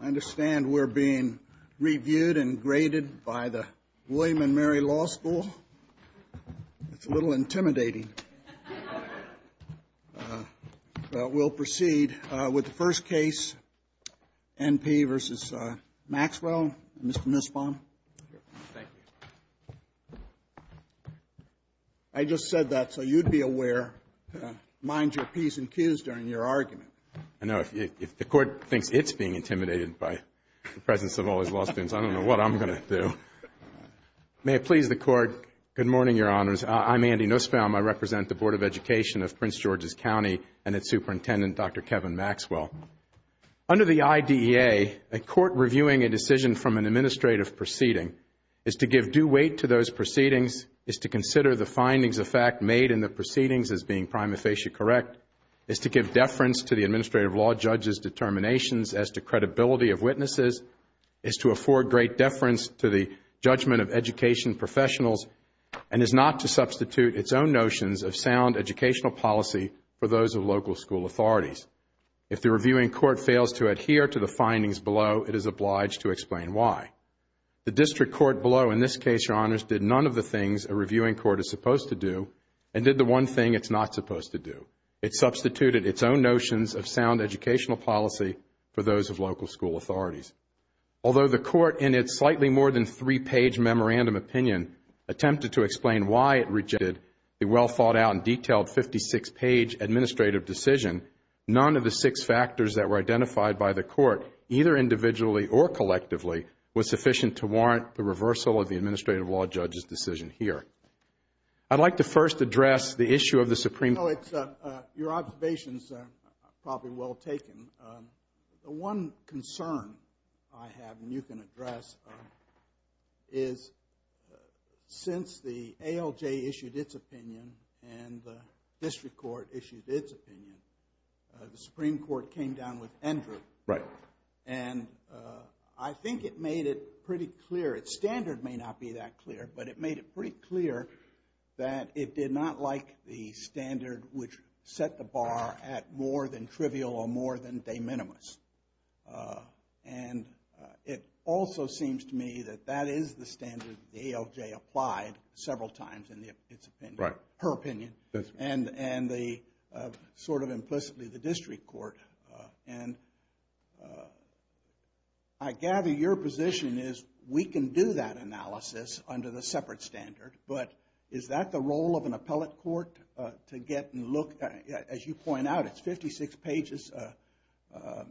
I understand we are being reviewed and graded by the William & Mary Law School. It's a little intimidating. We'll proceed with the first case, N. P. v. Maxwell, Mr. Nussbaum. I just said that so you'd be aware. Mind your P's and Q's during your argument. I know. If the Court thinks it's being intimidated by the presence of all these law students, I don't know what I'm going to do. May it please the Court, good morning, Your Honors. I'm Andy Nussbaum. I represent the Board of Education of Prince George's County and its Superintendent, Dr. Kevin Maxwell. Under the IDEA, a court reviewing a decision from an administrative proceeding is to give due weight to those proceedings, is to consider the findings of fact made in the proceedings as being prima facie correct, is to give deference to the administrative law judge's determinations as to credibility of witnesses, is to afford great deference to the judgment of education professionals, and is not to substitute its own notions of sound educational policy for those of local school authorities. If the district court below, in this case, Your Honors, did none of the things a reviewing court is supposed to do and did the one thing it's not supposed to do, it substituted its own notions of sound educational policy for those of local school authorities. Although the Court, in its slightly more than three-page memorandum opinion, attempted to explain why it rejected a well-thought-out and detailed 56-page administrative decision, none of the six factors that were identified by the Court, either individually or collectively, was sufficient to warrant the reversal of the administrative law judge's decision here. I'd like to first address the issue of the Supreme Court. Your observations are probably well taken. The one concern I have, and you can address, is since the ALJ issued its opinion and the district court issued its opinion, the Supreme Court, I think it made it pretty clear, its standard may not be that clear, but it made it pretty clear that it did not like the standard which set the bar at more than trivial or more than de minimis. And it also seems to me that that is the standard the ALJ applied several times in its opinion, her opinion, and the, sort of implicitly, the district court. And I gather your position is, we can do that analysis under the separate standard, but is that the role of an appellate court to get and look, as you point out, it's 56 pages. The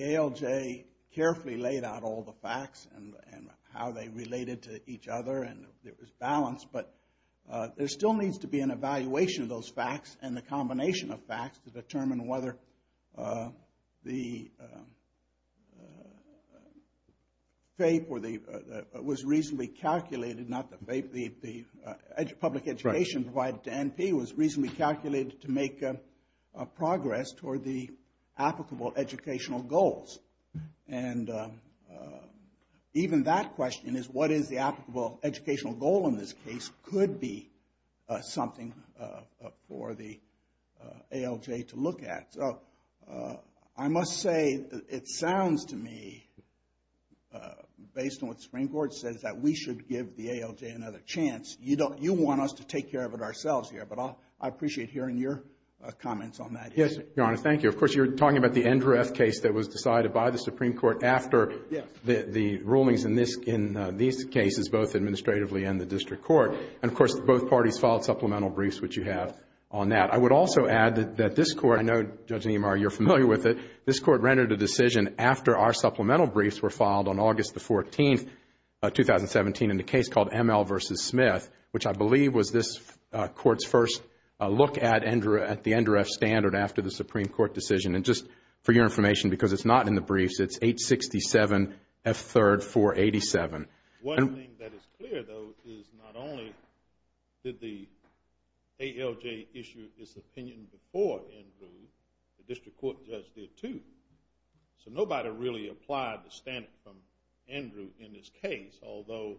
ALJ carefully laid out all the facts and how they related to each other and there was balance, but there still needs to be an evaluation of those facts and the combination of facts to determine whether the FAPE or the, was reasonably calculated, not the FAPE, the public education provided to NP was reasonably calculated to make progress toward the applicable educational goals. And even that question is, what is the applicable educational goal in this case, could be something for the ALJ to look at. So, I must say, it sounds to me, based on what the Supreme Court says, that we should give the ALJ another chance. You don't, you want us to take care of it ourselves here, but I appreciate hearing your comments on that. Yes, Your Honor, thank you. Of course, you're talking about the NDRF case that was decided by the Supreme Court after the rulings in this, in these cases, both administratively and in the district court. And, of course, both parties filed supplemental briefs, which you have on that. I would also add that this court, I know, Judge Niemeyer, you're familiar with it, this court rendered a decision after our supplemental briefs were filed on August the 14th, 2017, in the case called ML versus Smith, which I believe was this court's first look at NDRF, at the NDRF standard after the Supreme Court decision. And just for your information, because it's not in the briefs, it's 867 F3, 487. One thing that is clear, though, is not only did the ALJ issue its opinion before Andrew, the district court judge did, too. So nobody really applied the standard from Andrew in this case, although,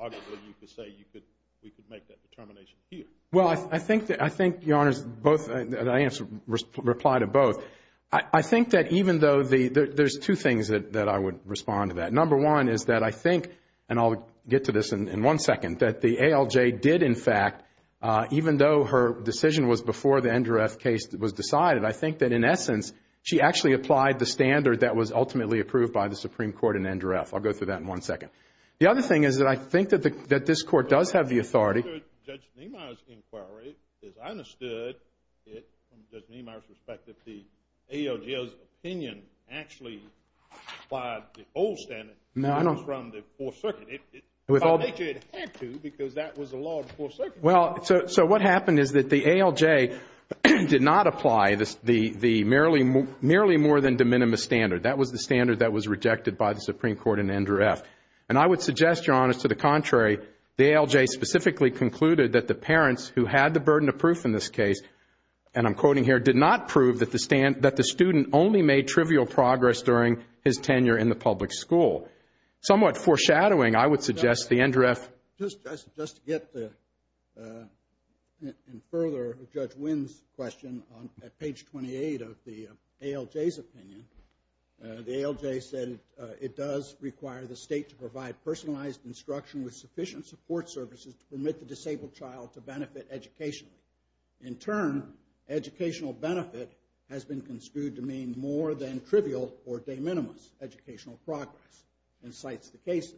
arguably, you could say you could, we could make that determination here. Well, I think that, I think, Your Honors, both, and I answer, reply to both. I think that even though the, there's two things that I would respond to that. Number one is that I think, and I'll get to this in one second, that the ALJ did, in fact, even though her decision was before the NDRF case was decided, I think that, in essence, she actually applied the standard that was ultimately approved by the Supreme Court and NDRF. I'll go through that in one second. The other thing is that I think that the, that this court does have the authority. Judge Niemeyer's inquiry, as I understood it, from Judge Niemeyer's perspective, the Well, so what happened is that the ALJ did not apply the merely more than de minimis standard. That was the standard that was rejected by the Supreme Court and NDRF. And I would suggest, Your Honors, to the contrary, the ALJ specifically concluded that the parents who had the burden of proof in this case, and I'm quoting here, did not prove that the student only made trivial progress during his tenure in the public school. Somewhat foreshadowing, I would suggest the NDRF Just to get the, and further, Judge Wynn's question on page 28 of the ALJ's opinion, the ALJ said it does require the state to provide personalized instruction with sufficient support services to permit the disabled child to benefit educationally. In turn, educational benefit has been construed to mean more than trivial or de minimis educational progress, and cites the cases,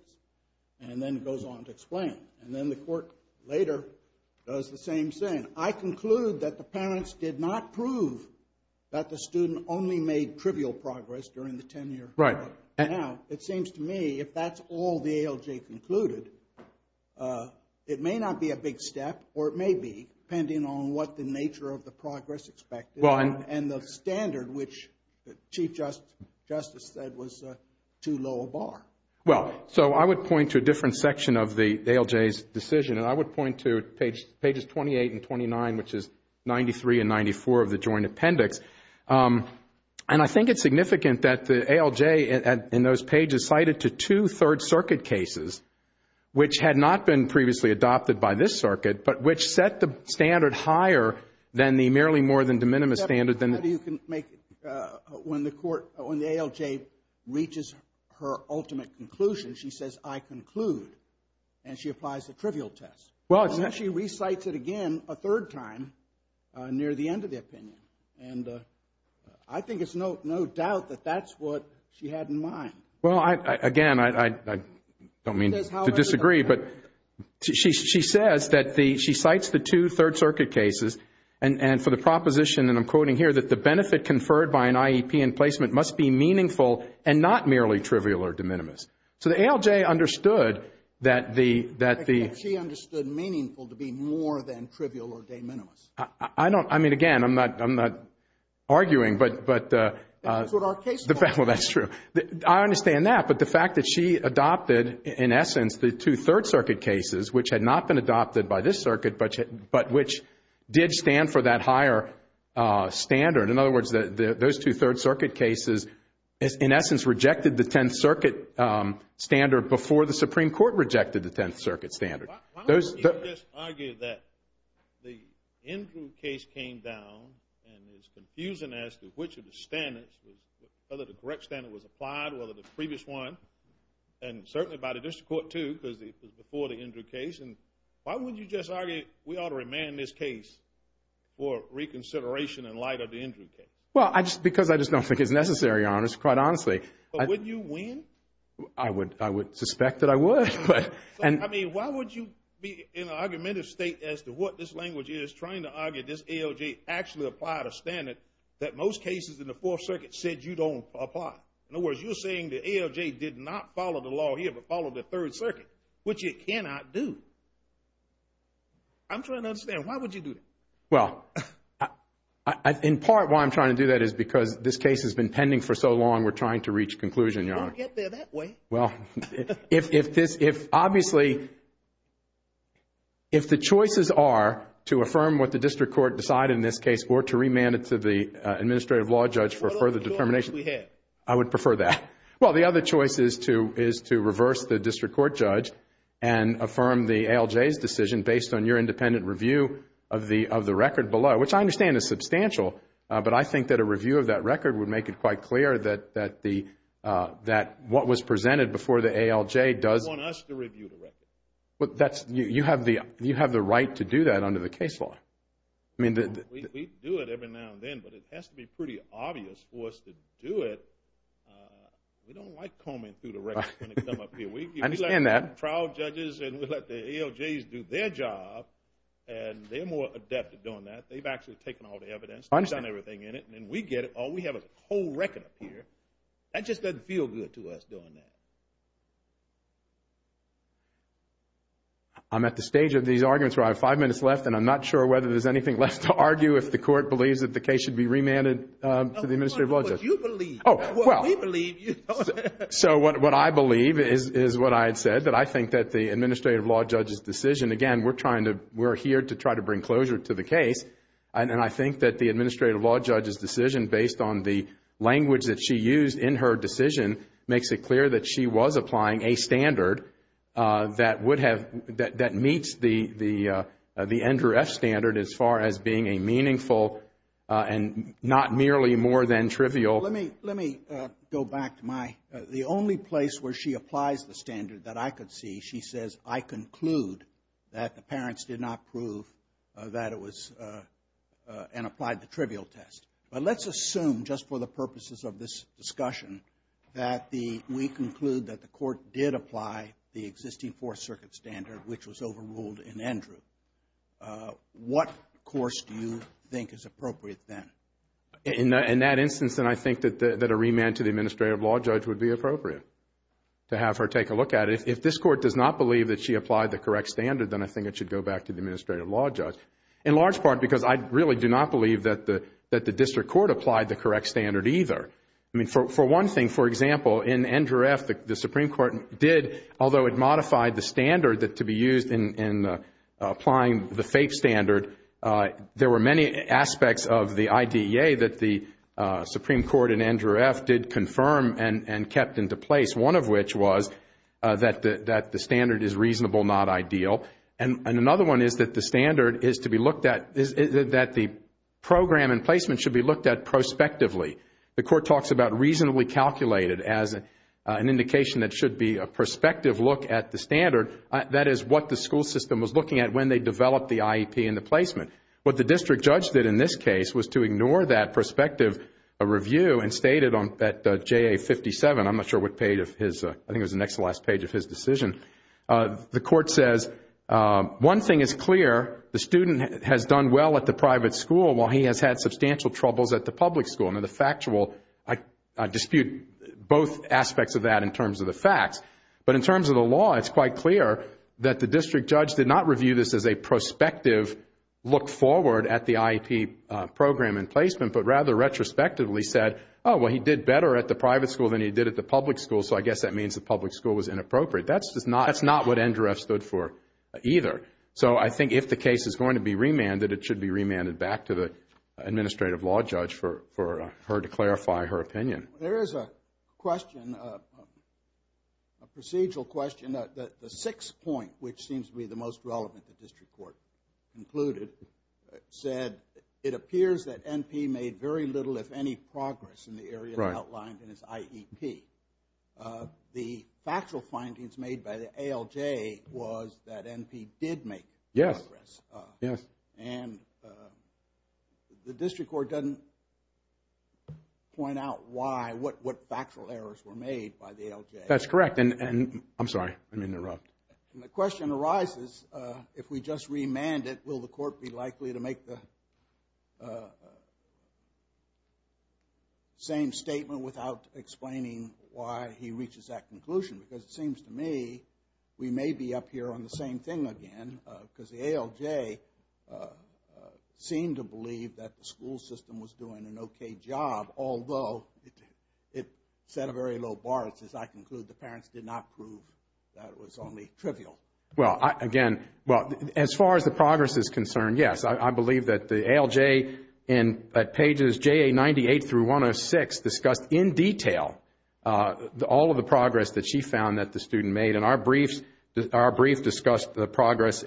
and then goes on to explain. And then the court later does the same thing. I conclude that the parents did not prove that the student only made trivial progress during the tenure. Right. Now, it seems to me, if that's all the ALJ concluded, it may not be a big step, or it may be, depending on what the nature of the progress expected, and the standard, which the Chief Justice said was too low a bar. Well, so I would point to a different section of the ALJ's decision, and I would point to pages 28 and 29, which is 93 and 94 of the Joint Appendix. And I think it's significant that the ALJ in those pages cited to two Third Circuit cases, which had not been previously adopted by this circuit, but which set the standard higher than the merely more than de minimis standard. How do you make, when the court, when the ALJ reaches her ultimate conclusion, she says, I conclude, and she applies the trivial test. Well, it's And then she recites it again a third time near the end of the opinion. And I think it's no doubt that that's what she had in mind. Well, again, I don't mean to disagree, but she says that the, she cites the two Third Circuit cases, and for the proposition, and I'm quoting here, that the benefit conferred by an IEP in placement must be meaningful and not merely trivial or de minimis. So the ALJ understood that the She understood meaningful to be more than trivial or de minimis. I don't, I mean, again, I'm not, I'm not arguing, but That's what our case law says. Well, that's true. I understand that. But the fact that she adopted, in essence, the two Third Circuit cases, which had not been adopted by this circuit, but which did stand for that higher standard. In other words, those two Third Circuit cases, in essence, rejected the Tenth Circuit standard before the Supreme Court rejected the Tenth Circuit standard. Why don't you just argue that the Andrew case came down, and it's confusing as to which of the standards, whether the correct standard was applied, whether the previous one, and certainly by the District Court, too, because it was before the Andrew case, and why wouldn't you just argue, we ought to remand this case for reconsideration in light of the Andrew case? Well, I just, because I just don't think it's necessary, Your Honor, quite honestly. But would you win? I would, I would suspect that I would, but, and I mean, why would you be in an argumentative state as to what this language is, trying to argue this ALJ actually applied a standard that most cases in the Fourth Circuit said you don't apply? In other words, you're saying the ALJ did not follow the law here, but followed the Third Circuit, which it cannot do. I'm trying to understand, why would you do that? Well, in part, why I'm trying to do that is because this case has been pending for so long we're trying to reach a conclusion, Your Honor. Don't get there that way. Well, if this, if obviously, if the choices are to affirm what the district court decided in this case or to remand it to the administrative law judge for further determination. What other choices do we have? I would prefer that. Well, the other choice is to reverse the district court judge and affirm the ALJ's decision based on your independent review of the record below, which I understand is substantial, but I think that a review of that record would make it quite clear that the, that what was presented before the ALJ does want us to review the record. But that's, you have the, you have the right to do that under the case law. I mean, we do it every now and then, but it has to be pretty obvious for us to do it. We don't like combing through the records when they come up here. I understand that. We let the trial judges and we let the ALJs do their job and they're more adept at doing They've actually taken all the evidence. I understand. They've done everything in it. And then we get it. All we have is a whole record up here. That just doesn't feel good to us doing that. I'm at the stage of these arguments where I have five minutes left and I'm not sure whether there's anything left to argue if the court believes that the case should be remanded to the administrative law judge. No, no, no. What you believe. Oh, well. What we believe, you don't. So what I believe is, is what I had said, that I think that the administrative law judge's decision, again, we're trying to, we're here to try to bring closure to the case. And I think that the administrative law judge's decision, based on the language that she used in her decision, makes it clear that she was applying a standard that would have, that meets the NDRF standard as far as being a meaningful and not merely more than trivial. Let me go back to my, the only place where she applies the standard that I could see, she says, I conclude that the parents did not prove that it was, and applied the trivial test. But let's assume, just for the purposes of this discussion, that the, we conclude that the court did apply the existing Fourth Circuit standard, which was overruled in Andrew. What course do you think is appropriate then? In that instance, then I think that a remand to the administrative law judge would be appropriate to have her take a look at it. And if this court does not believe that she applied the correct standard, then I think it should go back to the administrative law judge. In large part because I really do not believe that the district court applied the correct standard either. I mean, for one thing, for example, in NDRF, the Supreme Court did, although it modified the standard to be used in applying the FAPE standard, there were many aspects of the IDEA that the Supreme Court in NDRF did confirm and kept into place. One of which was that the standard is reasonable, not ideal. And another one is that the standard is to be looked at, that the program and placement should be looked at prospectively. The court talks about reasonably calculated as an indication that should be a prospective look at the standard. That is what the school system was looking at when they developed the IEP and the placement. What the district judge did in this case was to ignore that prospective review and stated on that JA57, I am not sure what page of his, I think it was the next to last page of his decision. The court says, one thing is clear, the student has done well at the private school while he has had substantial troubles at the public school. Now the factual, I dispute both aspects of that in terms of the facts. But in terms of the law, it is quite clear that the district judge did not review this as a prospective look forward at the IEP program and placement, but rather retrospectively said, oh, well, he did better at the private school than he did at the public school, so I guess that means the public school was inappropriate. That is not what NDREF stood for either. So I think if the case is going to be remanded, it should be remanded back to the administrative law judge for her to clarify her opinion. There is a question, a procedural question, the sixth point, which seems to be the most in the area outlined in his IEP. The factual findings made by the ALJ was that NP did make progress, and the district court doesn't point out why, what factual errors were made by the ALJ. That's correct. I'm sorry, I'm interrupted. The question arises, if we just remand it, will the court be likely to make the same statement without explaining why he reaches that conclusion? Because it seems to me we may be up here on the same thing again, because the ALJ seemed to believe that the school system was doing an okay job, although it set a very low bar. As I conclude, the parents did not prove that it was only trivial. Well, again, as far as the progress is concerned, yes. I believe that the ALJ at pages JA98 through 106 discussed in detail all of the progress that she found that the student made, and our brief discussed the progress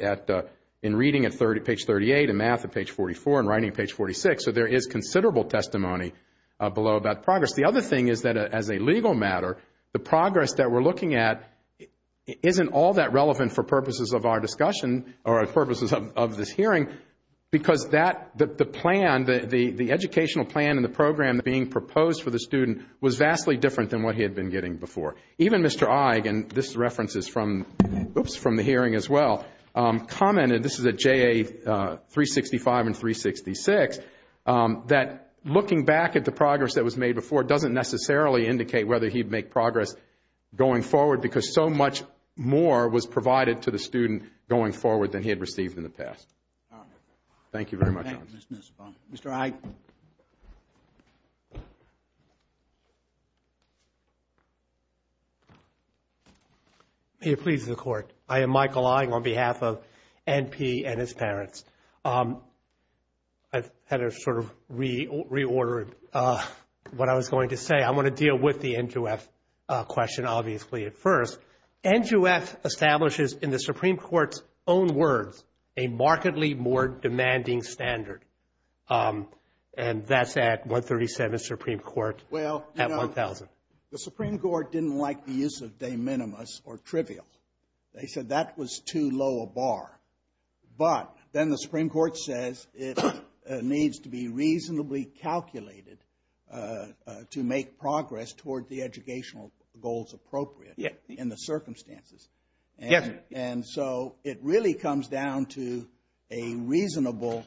in reading at page 38, in math at page 44, and writing at page 46. So there is considerable testimony below about progress. The other thing is that as a legal matter, the progress that we're looking at isn't all that relevant for purposes of our discussion, or purposes of this hearing, because the educational plan and the program being proposed for the student was vastly different than what he had been getting before. Even Mr. Ige, and this reference is from the hearing as well, commented, this is at JA365 and 366, that looking back at the progress that was made before doesn't necessarily indicate whether he'd make progress going forward, because so much more was provided to the student going forward than he had received in the past. Thank you very much. Mr. Ige. May it please the Court. I am Michael Ige on behalf of N.P. and his parents. I've had to sort of reorder what I was going to say. I want to deal with the NJUF question, obviously, at first. NJUF establishes, in the Supreme Court's own words, a markedly more demanding standard, and that's at 137, Supreme Court, at 1,000. Well, you know, the Supreme Court didn't like the use of de minimis or trivial. They said that was too low a bar. But then the Supreme Court says it needs to be reasonably calculated to make progress toward the educational goals appropriate in the circumstances. And so it really comes down to a reasonableness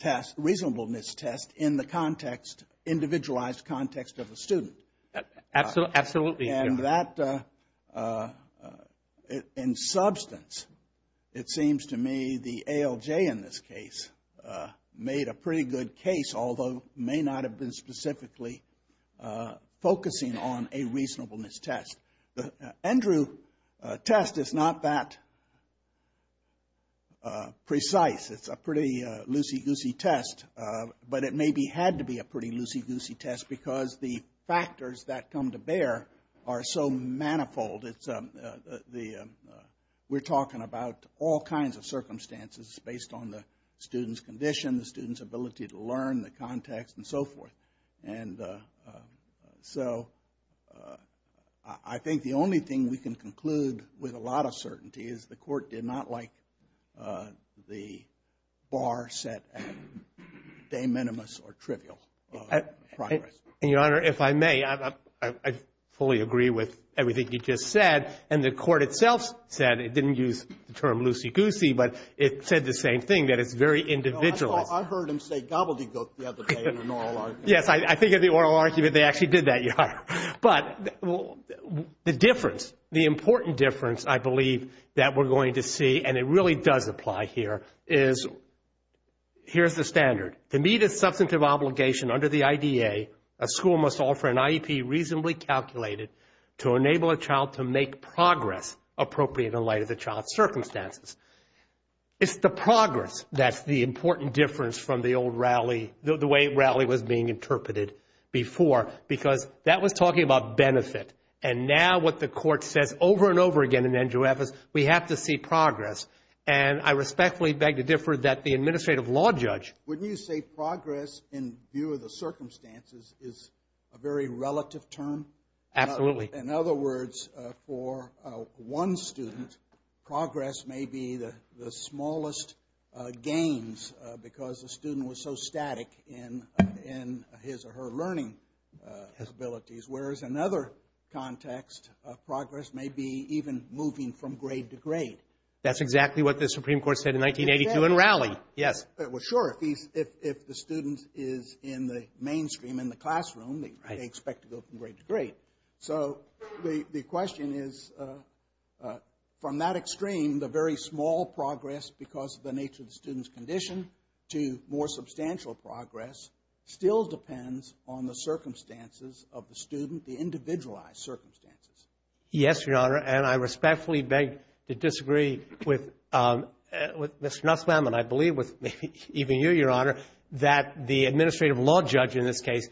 test in the context, individualized context of the student. Absolutely. And that, in substance, it seems to me the ALJ, in this case, made a pretty good case, although may not have been specifically focusing on a reasonableness test. The Andrew test is not that precise. It's a pretty loosey-goosey test, but it maybe had to be a pretty loosey-goosey test because the factors that come to bear are so manifold. We're talking about all kinds of circumstances based on the student's condition, the student's ability to learn, the context, and so forth. And so I think the only thing we can conclude with a lot of certainty is the Court did not like the bar set at de minimis or trivial progress. And, Your Honor, if I may, I fully agree with everything you just said. And the Court itself said, it didn't use the term loosey-goosey, but it said the same thing, that it's very individualized. No, I heard him say gobbledygook the other day in an oral argument. Yes, I think in the oral argument they actually did that, Your Honor. But the difference, the important difference, I believe, that we're going to see, and it really does apply here, is here's the standard. To meet a substantive obligation under the IDA, a school must offer an IEP reasonably calculated to enable a child to make progress appropriate in light of the child's circumstances. It's the progress that's the important difference from the old rally, the way rally was being interpreted before, because that was talking about benefit. And now what the Court says over and over again in Andrew Evers, we have to see progress. And I respectfully beg to differ that the Administrative Law Judge— I would say progress, in view of the circumstances, is a very relative term. Absolutely. In other words, for one student, progress may be the smallest gains because the student was so static in his or her learning abilities, whereas another context of progress may be even moving from grade to grade. That's exactly what the Supreme Court said in 1982 in rally. Yes. Well, sure, if the student is in the mainstream in the classroom, they expect to go from grade to grade. So the question is, from that extreme, the very small progress because of the nature of the student's condition to more substantial progress still depends on the circumstances of the student, the individualized circumstances. Yes, Your Honor, and I respectfully beg to disagree with Mr. Nussbaum, and I believe with maybe even you, Your Honor, that the Administrative Law Judge in this case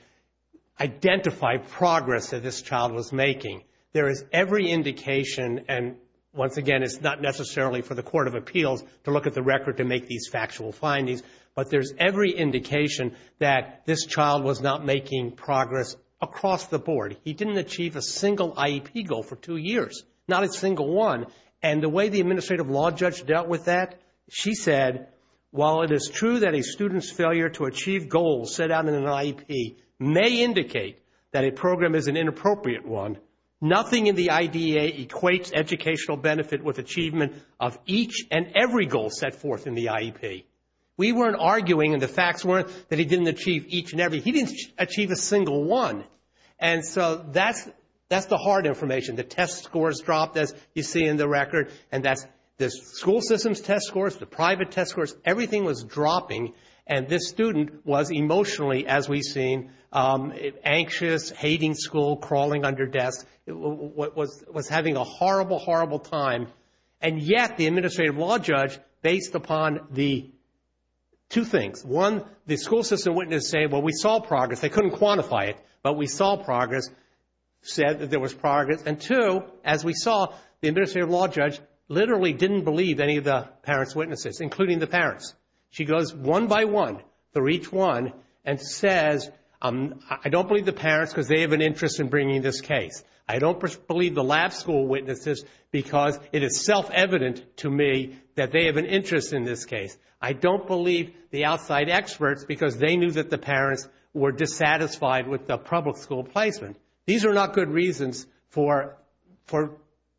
identified progress that this child was making. There is every indication, and once again, it's not necessarily for the Court of Appeals to look at the record to make these factual findings, but there's every indication that this child was not making progress across the board. He didn't achieve a single IEP goal for two years, not a single one. And the way the Administrative Law Judge dealt with that, she said, while it is true that a student's failure to achieve goals set out in an IEP may indicate that a program is an inappropriate one, nothing in the IDEA equates educational benefit with achievement of each and every goal set forth in the IEP. We weren't arguing, and the facts weren't that he didn't achieve each and every. He didn't achieve a single one. And so that's the hard information. The test scores dropped, as you see in the record, and that's the school system's test scores, the private test scores, everything was dropping, and this student was emotionally, as we've seen, anxious, hating school, crawling under desks, was having a horrible, horrible time. And yet the Administrative Law Judge, based upon the two things, one, the school system witnesses say, well, we saw progress. They couldn't quantify it, but we saw progress, said that there was progress. And two, as we saw, the Administrative Law Judge literally didn't believe any of the parents' witnesses, including the parents. She goes one by one, through each one, and says, I don't believe the parents because they have an interest in bringing this case. I don't believe the lab school witnesses because it is self-evident to me that they have an interest in this case. I don't believe the outside experts because they knew that the parents were dissatisfied with the public school placement. These are not good reasons for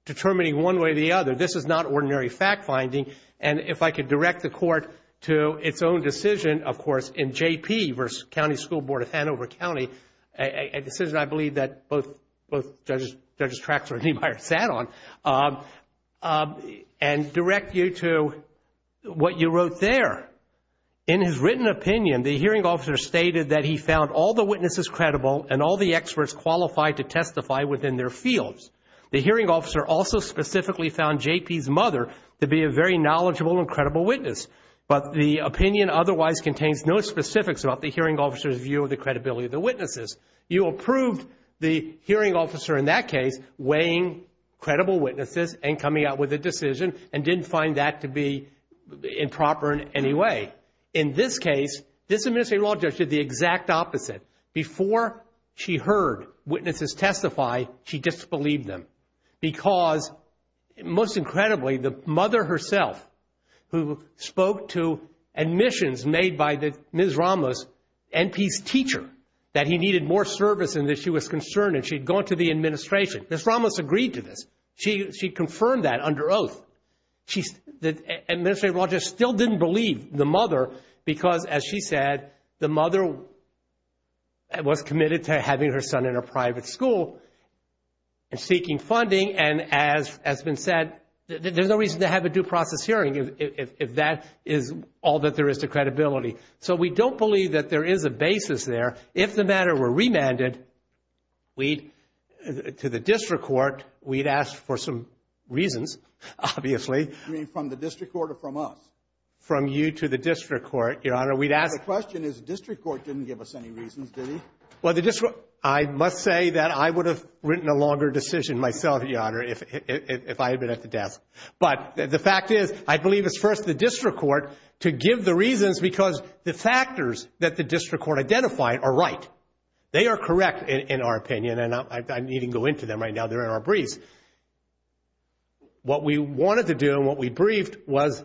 determining one way or the other. This is not ordinary fact-finding. And if I could direct the Court to its own decision, of course, in J.P. v. County School Board of Hanover County, a decision I believe that both Judges Traxler and Niemeyer sat on, and direct you to what you wrote there. In his written opinion, the hearing officer stated that he found all the witnesses credible and all the experts qualified to testify within their fields. The hearing officer also specifically found J.P.'s mother to be a very knowledgeable and credible witness. But the opinion otherwise contains no specifics about the hearing officer's view of the credibility of the witnesses. You approved the hearing officer in that case weighing credible witnesses and coming out with a decision and didn't find that to be improper in any way. In this case, this Administrative Law Judge did the exact opposite. Before she heard witnesses testify, she disbelieved them because, most incredibly, the mother herself who spoke to admissions made by Ms. Ramos, N.P.'s teacher, that he needed more service and that she was concerned and she'd gone to the administration. Ms. Ramos agreed to this. She confirmed that under oath. The Administrative Law Judge still didn't believe the mother because, as she said, the mother was committed to having her son in a private school and seeking funding, and as has been said, there's no reason to have a due process hearing if that is all that there is to credibility. So we don't believe that there is a basis there. But if the matter were remanded to the district court, we'd ask for some reasons, obviously. From the district court or from us? From you to the district court, Your Honor, we'd ask... The question is the district court didn't give us any reasons, did he? I must say that I would have written a longer decision myself, Your Honor, if I had been at the desk. But the fact is, I believe it's first the district court to give the reasons because the factors that the district court identified are right. They are correct, in our opinion, and I needn't go into them right now, they're in our breeze. What we wanted to do and what we briefed was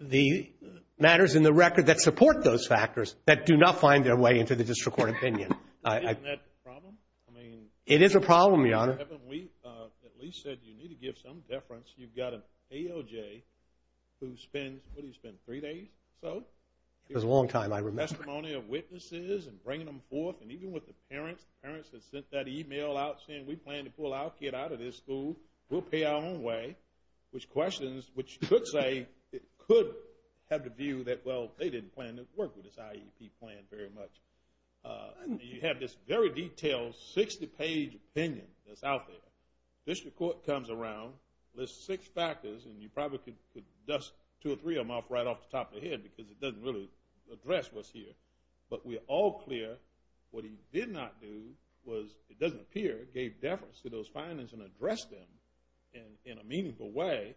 the matters in the record that support those factors that do not find their way into the district court opinion. Isn't that the problem? I mean... It is a problem, Your Honor. Haven't we at least said you need to give some deference? You've got an AOJ who spends, what do you spend, three days? So? It was a long time, I remember.... testimony of witnesses and bringing them forth. And even with the parents, the parents had sent that email out saying, we plan to pull our kid out of this school. We'll pay our own way. Which questions, which could say, could have the view that, well, they didn't plan to work with this IEP plan very much. And you have this very detailed, 60-page opinion that's out there. The district court comes around, lists six factors, and you probably could dust two or three of them off right off the top of your head because it doesn't make any sense to address what's here. But we're all clear what he did not do was, it doesn't appear, gave deference to those findings and addressed them in a meaningful way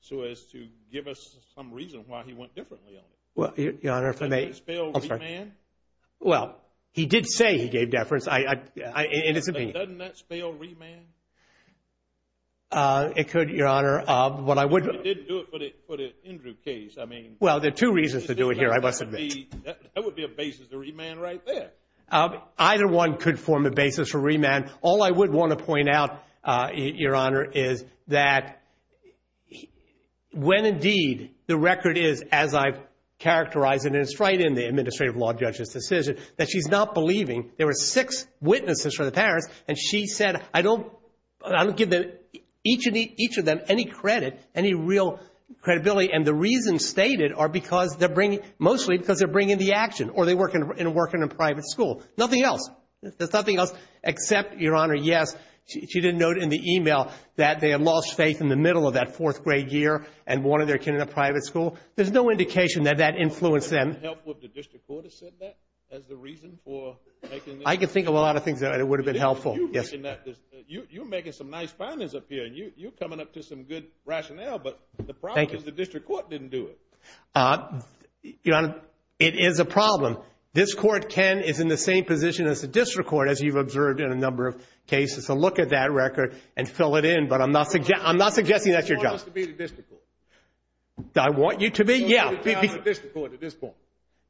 so as to give us some reason why he went differently on it. Well, Your Honor, if I may... Doesn't that spell re-man? Well, he did say he gave deference. I... and it's... Doesn't that spell re-man? It could, Your Honor. What I would... He did do it, but it's an Andrew case. It's an Andrew case. It's an Andrew case. It's an Andrew case. It's an Andrew case. It's an Andrew case. I'm not going to go over here. I must admit. That would be a basis to re-man right there. Either one could form a basis for re-man. All I would want to point out, Your Honor, is that when, indeed, the record is, as I've characterized it, and it's right in the Administrative Law Judges' decision, that she's not believing... there were six witnesses for the parents and she said, I don't give each of them any credit, any real credibility, and the reasons stated are because they're bringing... I'm not going to go over here. I'm not going to go over here. because they're bringing the action or they work in a private school, nothing else. There's nothing else except Your Honor, yes, she did note in the email that they lost faith pick in a private school. in the middle of that fourth grade year and wanted their kid in a private school. There's no indication that that influenced them. Why hasn't this been helpful? The district court as the reason for making this? I could think of a lot of things that would have been helpful. You make it some nice findings up here and you come up with some good rationale. Thank you. But the problem was the district court didn't do it. You know, it is a problem. This court can is in the same position as the district court, as you've observed in a number of cases. So look at that record and fill it in. But I'm not suggesting I'm not suggesting that your job. I want you to be. Yeah,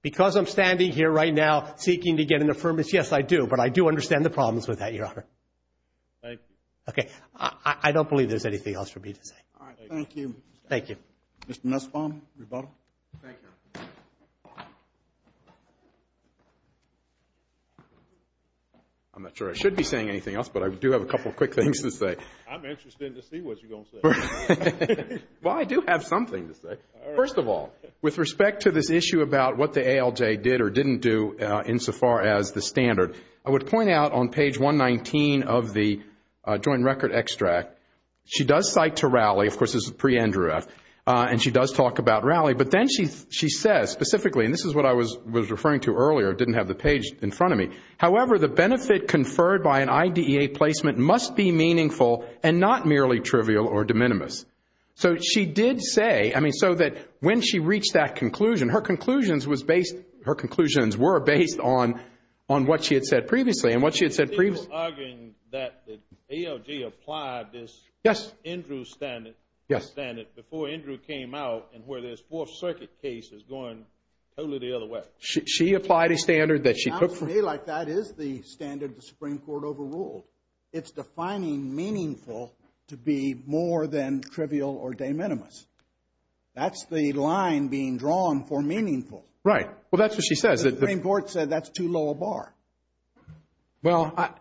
because I'm standing here right now seeking to get an affirmative. Yes, I do. But I do understand the problems with that. Your Honor. OK, I don't believe there's anything else for me to say. Thank you. Thank you. Mr. Nussbaum, rebuttal. Thank you, Your Honor. I'm not sure I should be saying anything else, but I do have a couple of quick things to say. I'm interested to see what you're going to say. Well, I do have something to say. All right. First of all, with respect to this issue about what the ALJ did or didn't do insofar as the standard, I would point out on page 119 of the joint record extract, she does cite to Rowley. Of course, this is pre-Andrew F. And she does talk about Rowley. But then she says specifically, and this is what I was referring to earlier. It didn't have the page in front of me. However, the benefit conferred by an IDEA placement must be meaningful and not merely trivial or de minimis. So she did say, I mean, so that when she reached that conclusion, her conclusions were based on what she had said previously. And what she had said previously. Are you arguing that the ALJ applied this Andrew standard before Andrew came out and where this Fourth Circuit case is going totally the other way? She applied a standard that she took from. To me, like that is the standard the Supreme Court overruled. It's defining meaningful to be more than trivial or de minimis. That's the line being drawn for meaningful. Right. Well, that's what she says. The Supreme Court said that's too low a bar. Well,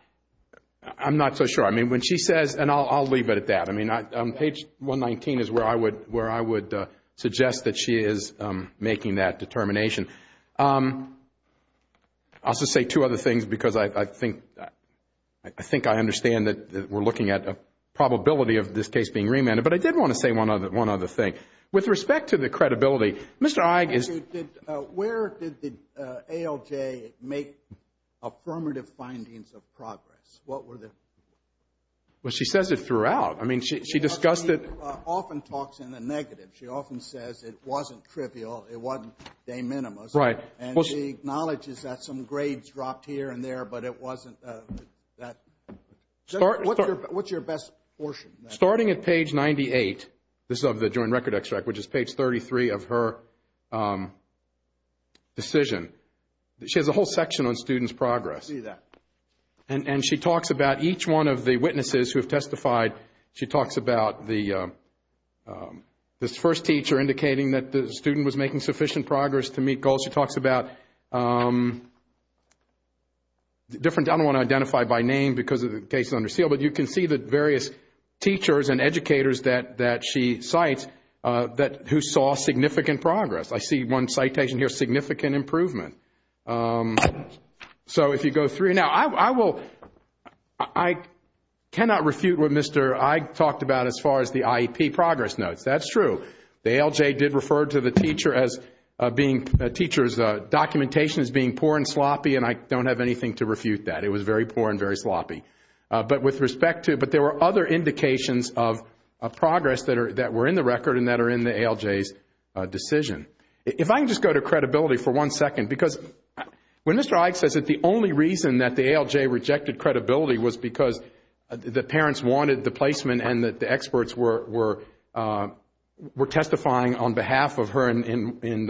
I'm not so sure. I mean, when she says, and I'll leave it at that. I mean, page 119 is where I would suggest that she is making that determination. I'll just say two other things, because I think I understand that we're looking at a probability of this case being remanded. But I did want to say one other thing. With respect to the credibility, Mr. Ige is. Where did the ALJ make affirmative findings of progress? What were the. Well, she says it throughout. I mean, she discussed it. Often talks in a negative. She often says it wasn't trivial. It wasn't de minimis. Right. And she acknowledges that some grades dropped here and there, but it wasn't that. What's your best portion? Starting at page 98, this is of the joint record extract, which is page 33 of her decision. She has a whole section on students' progress. And she talks about each one of the witnesses who have testified. She talks about this first teacher indicating that the student was making sufficient progress to meet goals. She talks about different. I don't want to identify by name because the case is under seal. But you can see the various teachers and educators that she cites who saw significant progress. I see one citation here, significant improvement. So if you go through. Now, I will. I cannot refute what Mr. Ige talked about as far as the IEP progress notes. That's true. The ALJ did refer to the teacher as being. The teacher's documentation as being poor and sloppy. And I don't have anything to refute that. It was very poor and very sloppy. But with respect to. But there were other indications of progress that were in the record and that are in the ALJ's decision. If I can just go to credibility for one second. Because when Mr. Ige says that the only reason that the ALJ rejected credibility was because the parents wanted the placement. And that the experts were testifying on behalf of her in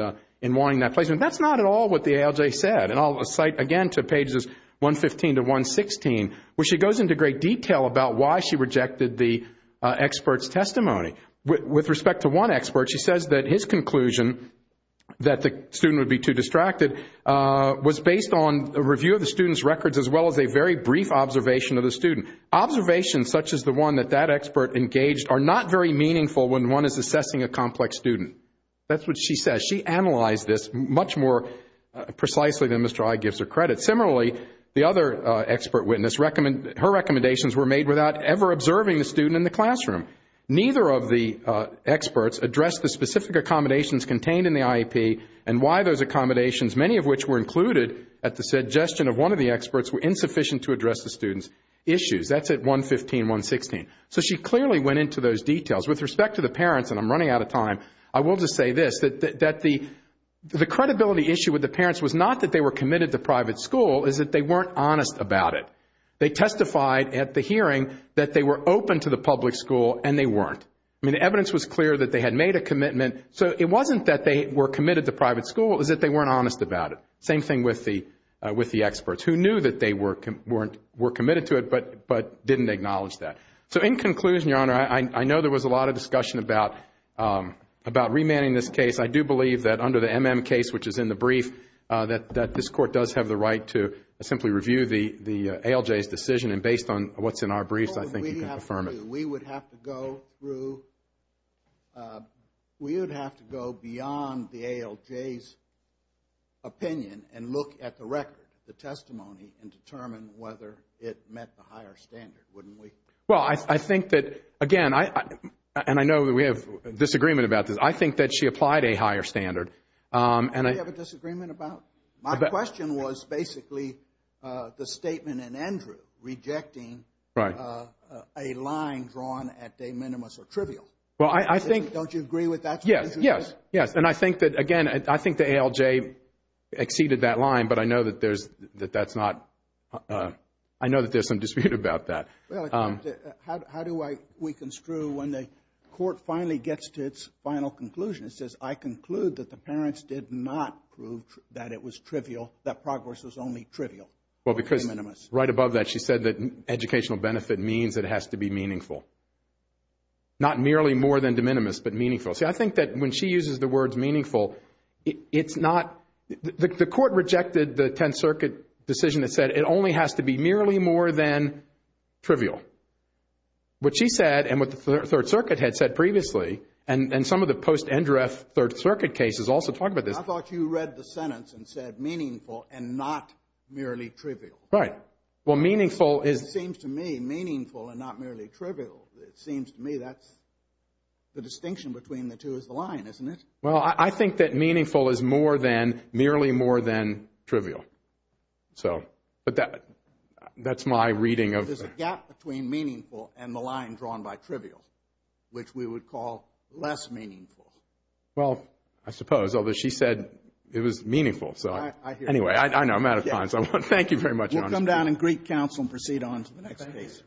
wanting that placement. That's not at all what the ALJ said. And I'll cite again to pages 115 to 116. Where she goes into great detail about why she rejected the expert's testimony. With respect to one expert, she says that his conclusion. That the student would be too distracted. Was based on a review of the student's records as well as a very brief observation of the student. Observations such as the one that that expert engaged are not very meaningful when one is assessing a complex student. That's what she says. She analyzed this much more precisely than Mr. Ige gives her credit. Similarly, the other expert witness. Her recommendations were made without ever observing the student in the classroom. Neither of the experts addressed the specific accommodations contained in the IEP. And why those accommodations, many of which were included at the suggestion of one of the experts. Were insufficient to address the student's issues. That's at 115, 116. So she clearly went into those details. With respect to the parents. And I'm running out of time. I will just say this. That the credibility issue with the parents was not that they were committed to private school. Is that they weren't honest about it. They testified at the hearing that they were open to the public school and they weren't. I mean the evidence was clear that they had made a commitment. So it wasn't that they were committed to private school. Is that they weren't honest about it. Same thing with the experts. Who knew that they were committed to it but didn't acknowledge that. So in conclusion your honor. I know there was a lot of discussion about remanding this case. I do believe that under the MM case which is in the brief. That this court does have the right to simply review the ALJ's decision. And based on what's in our briefs I think you can confirm it. We would have to go beyond the ALJ's opinion. And look at the record. The testimony and determine whether it met the higher standard. Wouldn't we. Well I think that again. And I know that we have disagreement about this. I think that she applied a higher standard. And I have a disagreement about. My question was basically the statement in Andrew. Rejecting a line drawn at de minimis or trivial. Well I think. Don't you agree with that. Yes. Yes. Yes. And I think that again. I think the ALJ exceeded that line. But I know that there's. That that's not. I know that there's some dispute about that. How do we construe when the court finally gets to its final conclusion. It says I conclude that the parents did not prove that it was trivial. That progress was only trivial. Well because. De minimis. Right above that she said that educational benefit means it has to be meaningful. Not merely more than de minimis but meaningful. See I think that when she uses the words meaningful. It's not. The court rejected the 10th Circuit decision that said it only has to be merely more than. Trivial. What she said and what the Third Circuit had said previously. And some of the post-end ref Third Circuit cases also talk about this. I thought you read the sentence and said meaningful and not merely trivial. Right. Well meaningful is. It seems to me meaningful and not merely trivial. It seems to me that's. The distinction between the two is the line isn't it. Well I think that meaningful is more than trivial. And merely more than trivial. So. But that's my reading of. There's a gap between meaningful and the line drawn by trivial. Which we would call less meaningful. Well I suppose. Although she said it was meaningful. So anyway I know I'm out of time. Thank you very much. We'll come down and greet counsel and proceed on to the next case.